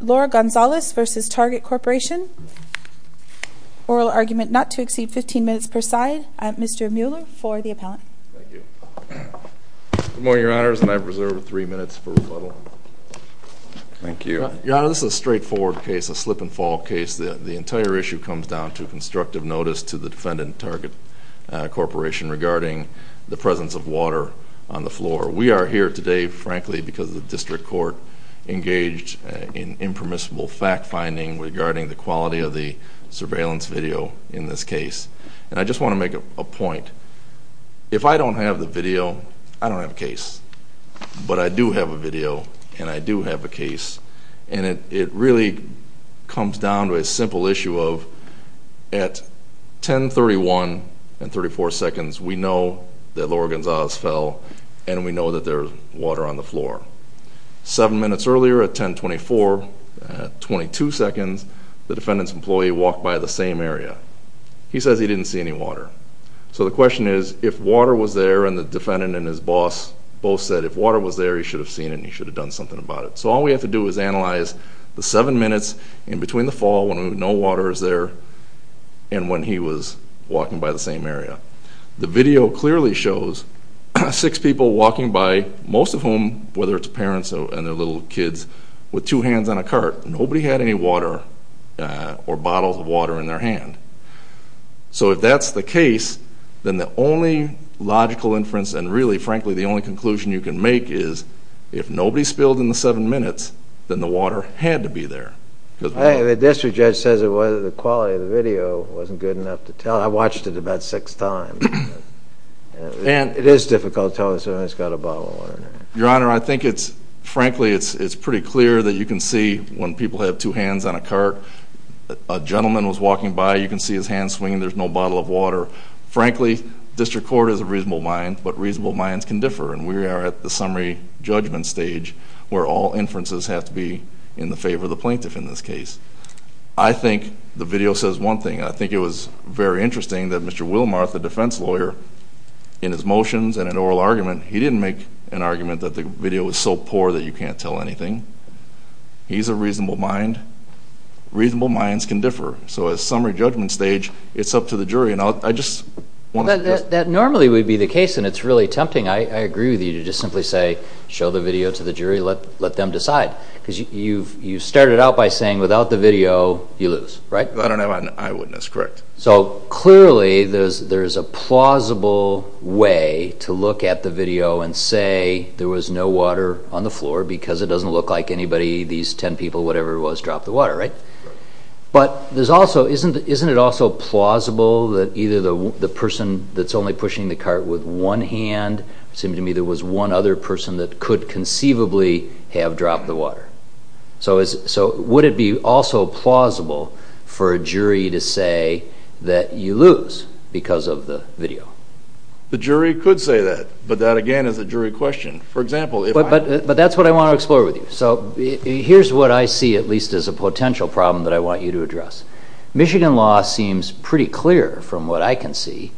Lora Gonzales v. Target Corporation Oral argument not to exceed 15 minutes per side. Mr. Mueller for the appellant. Good morning, Your Honors, and I reserve three minutes for rebuttal. Thank you. Your Honor, this is a straightforward case, a slip and fall case. The entire issue comes down to constructive notice to the defendant, Target Corporation, regarding the presence of the District Court engaged in impermissible fact-finding regarding the quality of the surveillance video in this case. And I just want to make a point. If I don't have the video, I don't have a case. But I do have a video, and I do have a case, and it really comes down to a simple issue of, at 10.31 and 34 seconds, we know that Lora Gonzales fell, and we know that there's water on the floor. Seven minutes earlier, at 10.24, at 22 seconds, the defendant's employee walked by the same area. He says he didn't see any water. So the question is, if water was there, and the defendant and his boss both said if water was there, he should have seen it and he should have done something about it. So all we have to do is analyze the seven minutes in between the fall when no water is there and when he was walking by the same area. The video clearly shows six people walking by, most of whom, whether it's parents and their little kids, with two hands on a cart. Nobody had any water or bottles of water in their hand. So if that's the case, then the only logical inference and really, frankly, the only conclusion you can make is, if nobody spilled in the seven minutes, then the water had to be there. The district judge says the quality of the video wasn't good enough to tell. I watched it about six times. It is difficult to tell when someone's got a bottle of water in their hand. Your Honor, I think it's, frankly, it's pretty clear that you can see when people have two hands on a cart, a gentleman was walking by, you can see his hand swinging, there's no bottle of water. Frankly, district court is a reasonable mind, but reasonable minds can differ, and we are at the summary judgment stage where all inferences have to be in the favor of the plaintiff in this case. I think the video says one thing. I think it was very interesting that Mr. Willmarth, the defense lawyer, in his motions and in oral argument, he didn't make an argument that the video was so poor that you can't tell anything. He's a reasonable mind. Reasonable minds can differ. So at summary judgment stage, it's up to the jury. That normally would be the case, and it's really tempting, I agree with you, to just simply say, show the video to the jury, let them decide. Because you've started out by saying without the video, you lose, right? I don't have an eyewitness, correct. So, clearly, there's a plausible way to look at the video and say there was no water on the floor because it doesn't look like anybody, these ten people, whatever it was, dropped the water, right? But isn't it also plausible that either the person that's only pushing the cart with one hand, it seemed to me there was one other person that could conceivably have dropped the water? So would it be also plausible for a jury to say that you lose because of the video? The jury could say that, but that again is a jury question. But that's what I want to explore with you. So here's what I see at least as a potential problem that I want you to address. Michigan law seems pretty clear from what I can see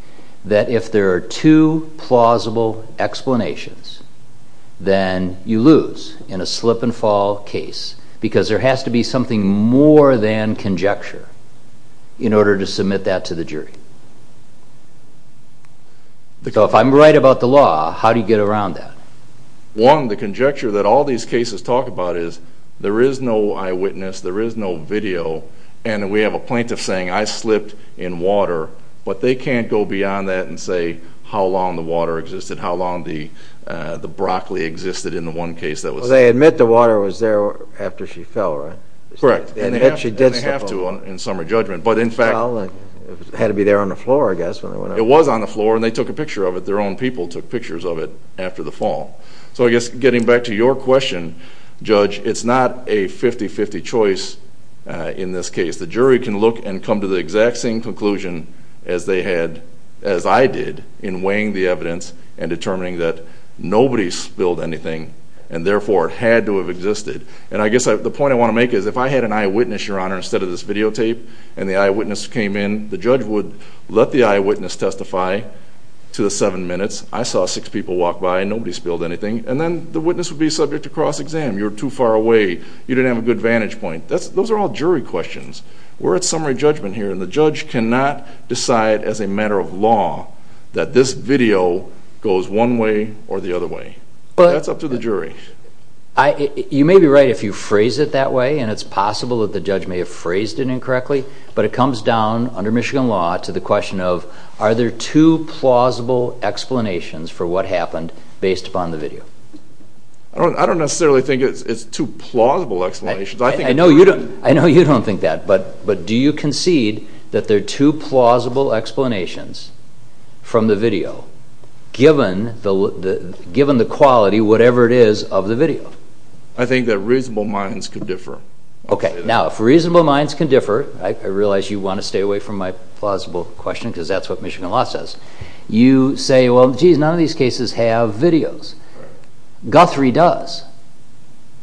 that if there are two plausible explanations, then you lose in a slip and fall case because there has to be something more than that. So if I'm right about the law, how do you get around that? One, the conjecture that all these cases talk about is there is no eyewitness, there is no video, and we have a plaintiff saying I slipped in water, but they can't go beyond that and say how long the water existed, how long the broccoli existed in the one case that was... Well, they admit the water was there after she fell, right? Correct. And they have to in summary judgment, but in fact... Well, it had to be there on the floor, I guess. It was on the floor and they took a picture of it. Their own people took pictures of it after the fall. So I guess getting back to your question, Judge, it's not a 50-50 choice in this case. The jury can look and come to the exact same conclusion as they had, as I did, in weighing the evidence and determining that nobody spilled anything and therefore it had to have existed. And I guess the point I want to make is if I had an eyewitness, Your Honor, instead of this videotape and the eyewitness came in, the judge would let the eyewitness testify to the seven minutes. I saw six people walk by and nobody spilled anything. And then the witness would be subject to cross-exam. You're too far away. You didn't have a good vantage point. Those are all jury questions. We're at summary judgment here and the judge cannot decide as a matter of law that this video goes one way or the other way. That's up to the jury. You may be right if you phrase it that way and it's possible that the judge may have phrased it incorrectly, but it comes down under Michigan law to the question of are there two plausible explanations for what happened based upon the video? I don't necessarily think it's two plausible explanations. I know you don't think that, but do you concede that there are two plausible explanations from the video given the quality, whatever it is, of the video? I think that reasonable minds can differ. Okay, now if reasonable minds can differ, I realize you want to stay away from my plausible question because that's what Michigan law says. You say, well, geez, none of these cases have videos. Guthrie does.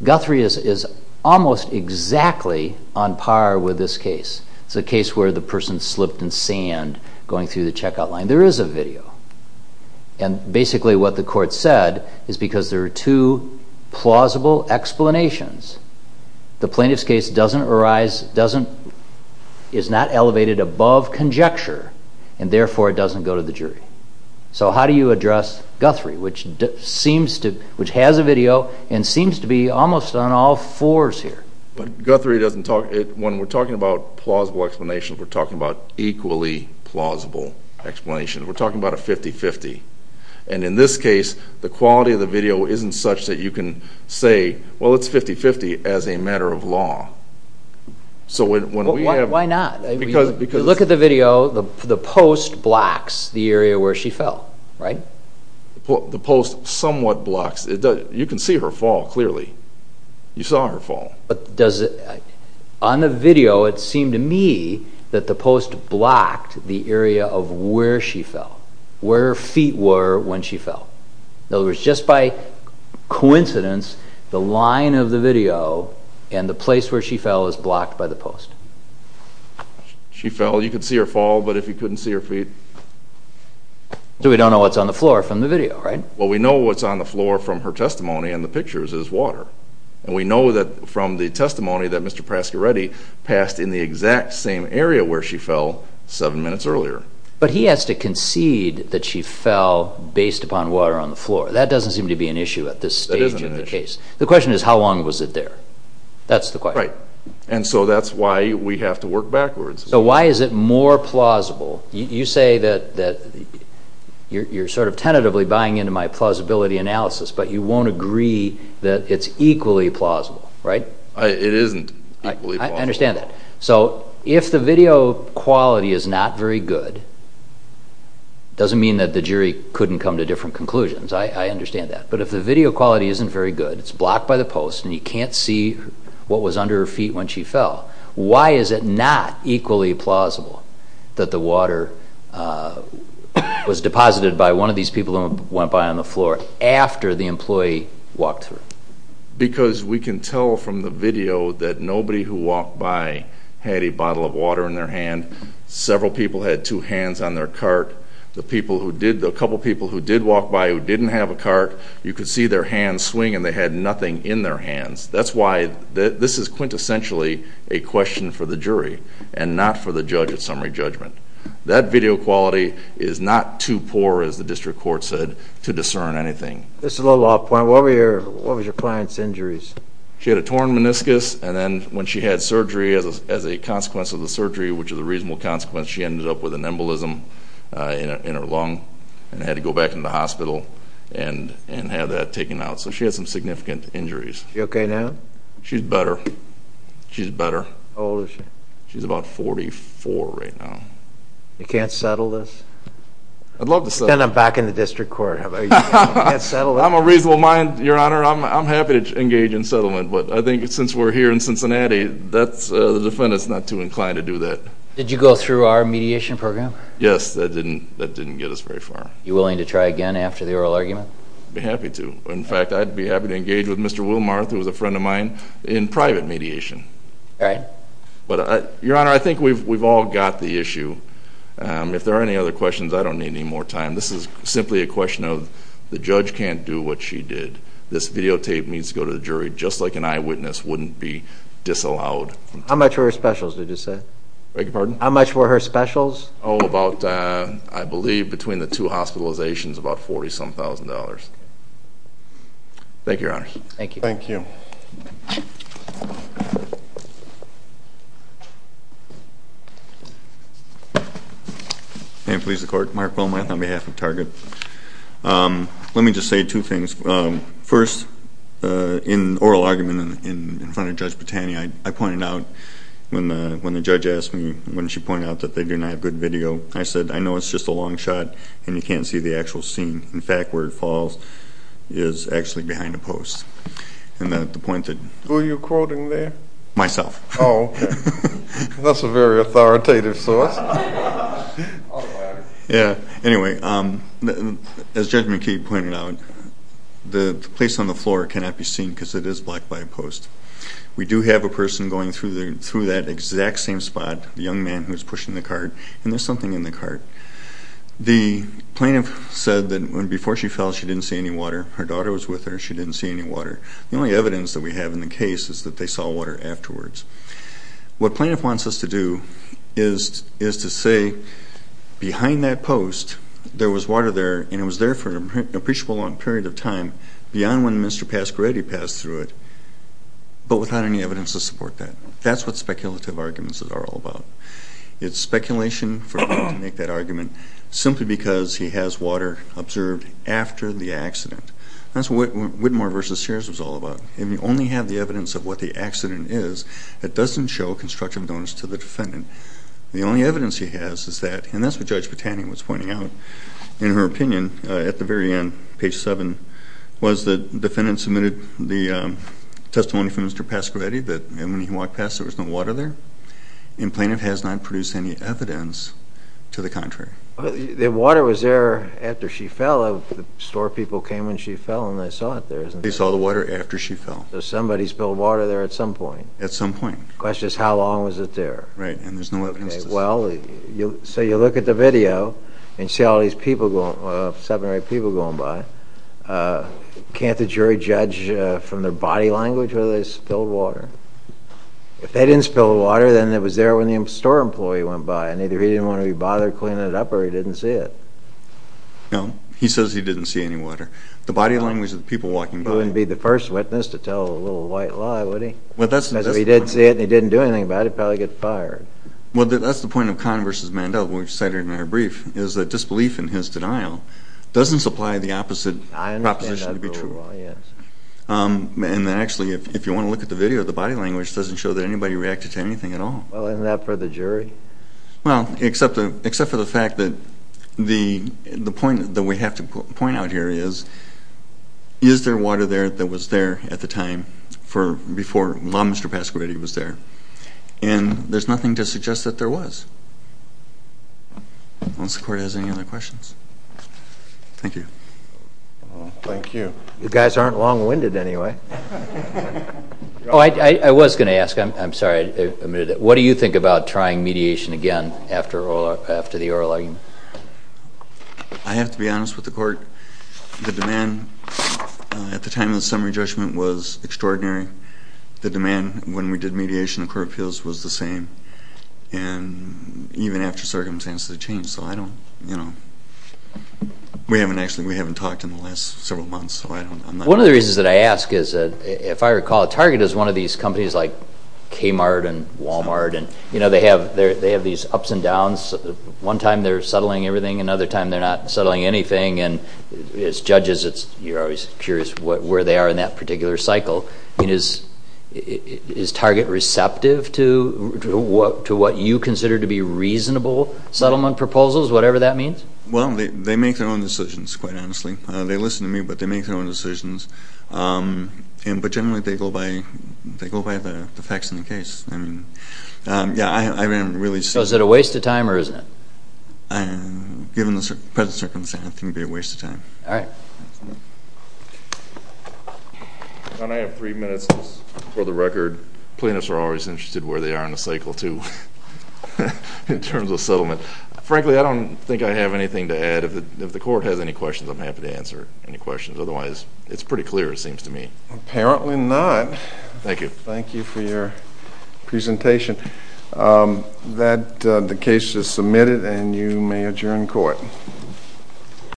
Guthrie is almost exactly on par with this case. It's a case where the person slipped in sand going through the checkout line. There is a video. And basically what the court said is because there are two plausible explanations, the plaintiff's case doesn't arise, is not elevated above conjecture and therefore it doesn't go to the jury. So how do you address Guthrie, which has a video and seems to be almost on all fours here? When we're talking about plausible explanations, we're talking about equally plausible explanations. We're talking about a 50-50. And in this case, the quality of the video isn't such that you can say, well, it's 50-50 as a matter of law. Why not? You look at the video, the post blocks the area where she fell, right? The post somewhat blocks. You can see her fall clearly. You saw her fall. On the video, it seemed to me that the post blocked the area of where she fell, where her feet were when she fell. In other words, just by the post. She fell. You could see her fall, but if you couldn't see her feet... So we don't know what's on the floor from the video, right? Well, we know what's on the floor from her testimony and the pictures is water. And we know that from the testimony that Mr. Pascaretti passed in the exact same area where she fell seven minutes earlier. But he has to concede that she fell based upon water on the floor. That doesn't seem to be an issue at this stage of the case. The question is, how long was it there? That's the question. And so that's why we have to work backwards. So why is it more plausible? You say that you're sort of tentatively buying into my plausibility analysis, but you won't agree that it's equally plausible, right? It isn't equally plausible. I understand that. So if the video quality is not very good, it doesn't mean that the jury couldn't come to different conclusions. I understand that. But if the video quality isn't very good, it's blocked by the post and you can't see what was under her feet when she fell, why is it not equally plausible that the water was deposited by one of these people who went by on the floor after the employee walked through? Because we can tell from the video that nobody who walked by had a bottle of water in their hand. Several people had two hands on their cart. The couple people who did walk by who didn't have a cart, you could see their hands swing and they had nothing in their hands. That's why this is quintessentially a question for the jury and not for the judge at summary judgment. That video quality is not too poor, as the district court said, to discern anything. This is a little off point. What were your client's injuries? She had a torn meniscus and then when she had surgery, as a consequence of the surgery, which is a reasonable consequence, she ended up with an embolism in her lung and had to go back to the hospital and have that taken out. So she had some significant injuries. Is she okay now? She's better. How old is she? She's about 44 right now. You can't settle this? Then I'm back in the district court. I'm a reasonable mind, your honor. I'm happy to engage in settlement, but I think since we're here in Cincinnati, the defendant's not too inclined to do that. Did you go through our mediation program? Yes, that didn't get us very far. Are you willing to try again after the oral argument? I'd be happy to. In fact, I'd be happy to engage with Mr. Wilmarth, who was a friend of mine, in the jury room. If there are any other questions, I don't need any more time. This is simply a question of the judge can't do what she did. This videotape needs to go to the jury, just like an eyewitness wouldn't be disallowed. How much were her specials, did you say? Beg your pardon? How much were her specials? Oh, about, I believe between the two hospitalizations, about $40-some-thousand. Thank you, your honor. Thank you. May it please the court, Mark Wilmarth on behalf of Target. Let me just say two things. First, in the oral argument in front of Judge Botani, I pointed out when the judge asked me, when she pointed out that they do not have good video, I said, I know it's just a long shot and you can't see the actual scene. In fact, where it falls is actually behind a post. And the point that... Who are you quoting there? Myself. Oh, okay. That's a very authoritative source. Yeah, anyway, as Judge McKee pointed out, the place on the floor cannot be seen because it is blocked by a post. We do have a person going through that exact same spot, the young man who was pushing the cart, and there's something in the cart. The plaintiff said that before she fell, she didn't see any water. Her daughter was with her. She didn't see any water. The only evidence that we have in the case is that they saw water afterwards. What plaintiff wants us to do is to say behind that post, there was water there, and it was there for an appreciable long period of time beyond when Mr. Pasqueradi passed through it, but without any evidence to support that. That's what speculative arguments are all about. It's speculation for him to make that argument simply because he has water observed after the accident. That's what Whitmore v. Sears was all about. If you only have the evidence of what the accident is, it doesn't show constructive evidence to the defendant. The only evidence he has is that, and that's what Judge Botani was pointing out in her opinion at the very end, page 7, was that the defendant submitted the testimony from Mr. Pasqueradi that when he fell, he did not see any water. The water was there after she fell. The store people came when she fell, and they saw it there, isn't it? They saw the water after she fell. So somebody spilled water there at some point. At some point. The question is, how long was it there? Right, and there's no evidence to support that. So you look at the video, and you see all these people, seven or eight people going by. Can't the jury judge from their body language whether they spilled water? If they didn't spill water, then it was there when the store employee went by, and either he didn't want to be bothered cleaning it up, or he didn't see it. No, he says he didn't see any water. The body language of the people walking by. He wouldn't be the first witness to tell a little white lie, would he? Because if he did see it, and he didn't do anything about it, he'd probably get fired. Well, that's the point of Conn v. Mandel that we've cited in our brief, is that disbelief in his denial doesn't supply the opposite proposition to be true. I understand that very well, yes. And actually, if you want to look at the video, the body language doesn't show that anybody reacted to anything at all. Well, isn't that for the jury? Well, except for the fact that the point that we have to point out here is, is there water there that was there at the time before Mr. Pasquarelli was there? And there's nothing to suggest that there was. Unless the court has any other questions. Thank you. Thank you. You guys aren't long-winded, anyway. I was going to ask, I'm sorry, what do you think about trying mediation again after the oral argument? I have to be honest with the court. The demand at the time of the summary judgment was extraordinary. The demand when we did mediation of court appeals was the same. And even after circumstances had changed. So I don't, you know, we haven't actually, we haven't talked in the last several months. One of the reasons that I ask is that, if I recall, Target is one of these companies like Kmart and Wal-Mart, and they have these ups and downs. One time they're settling everything, another time they're not settling anything. As judges, you're always curious where they are in that particular cycle. Is Target receptive to what you consider to be reasonable settlement proposals, whatever that means? Well, they make their own decisions, quite honestly. They listen to me, but they make their own decisions. But generally they go by the facts of the case. I mean, yeah, I am really... So is it a waste of time, or isn't it? Given the present circumstance, I think it would be a waste of time. Alright. John, I have three minutes for the record. Plaintiffs are always interested where they are in the cycle, too, in terms of settlement. Frankly, I don't think I have anything to add. If the court has any questions, I'm happy to answer any questions. Otherwise, it's pretty clear, it seems to me. Apparently not. Thank you. Thank you for your presentation. The case is submitted, and you may adjourn court.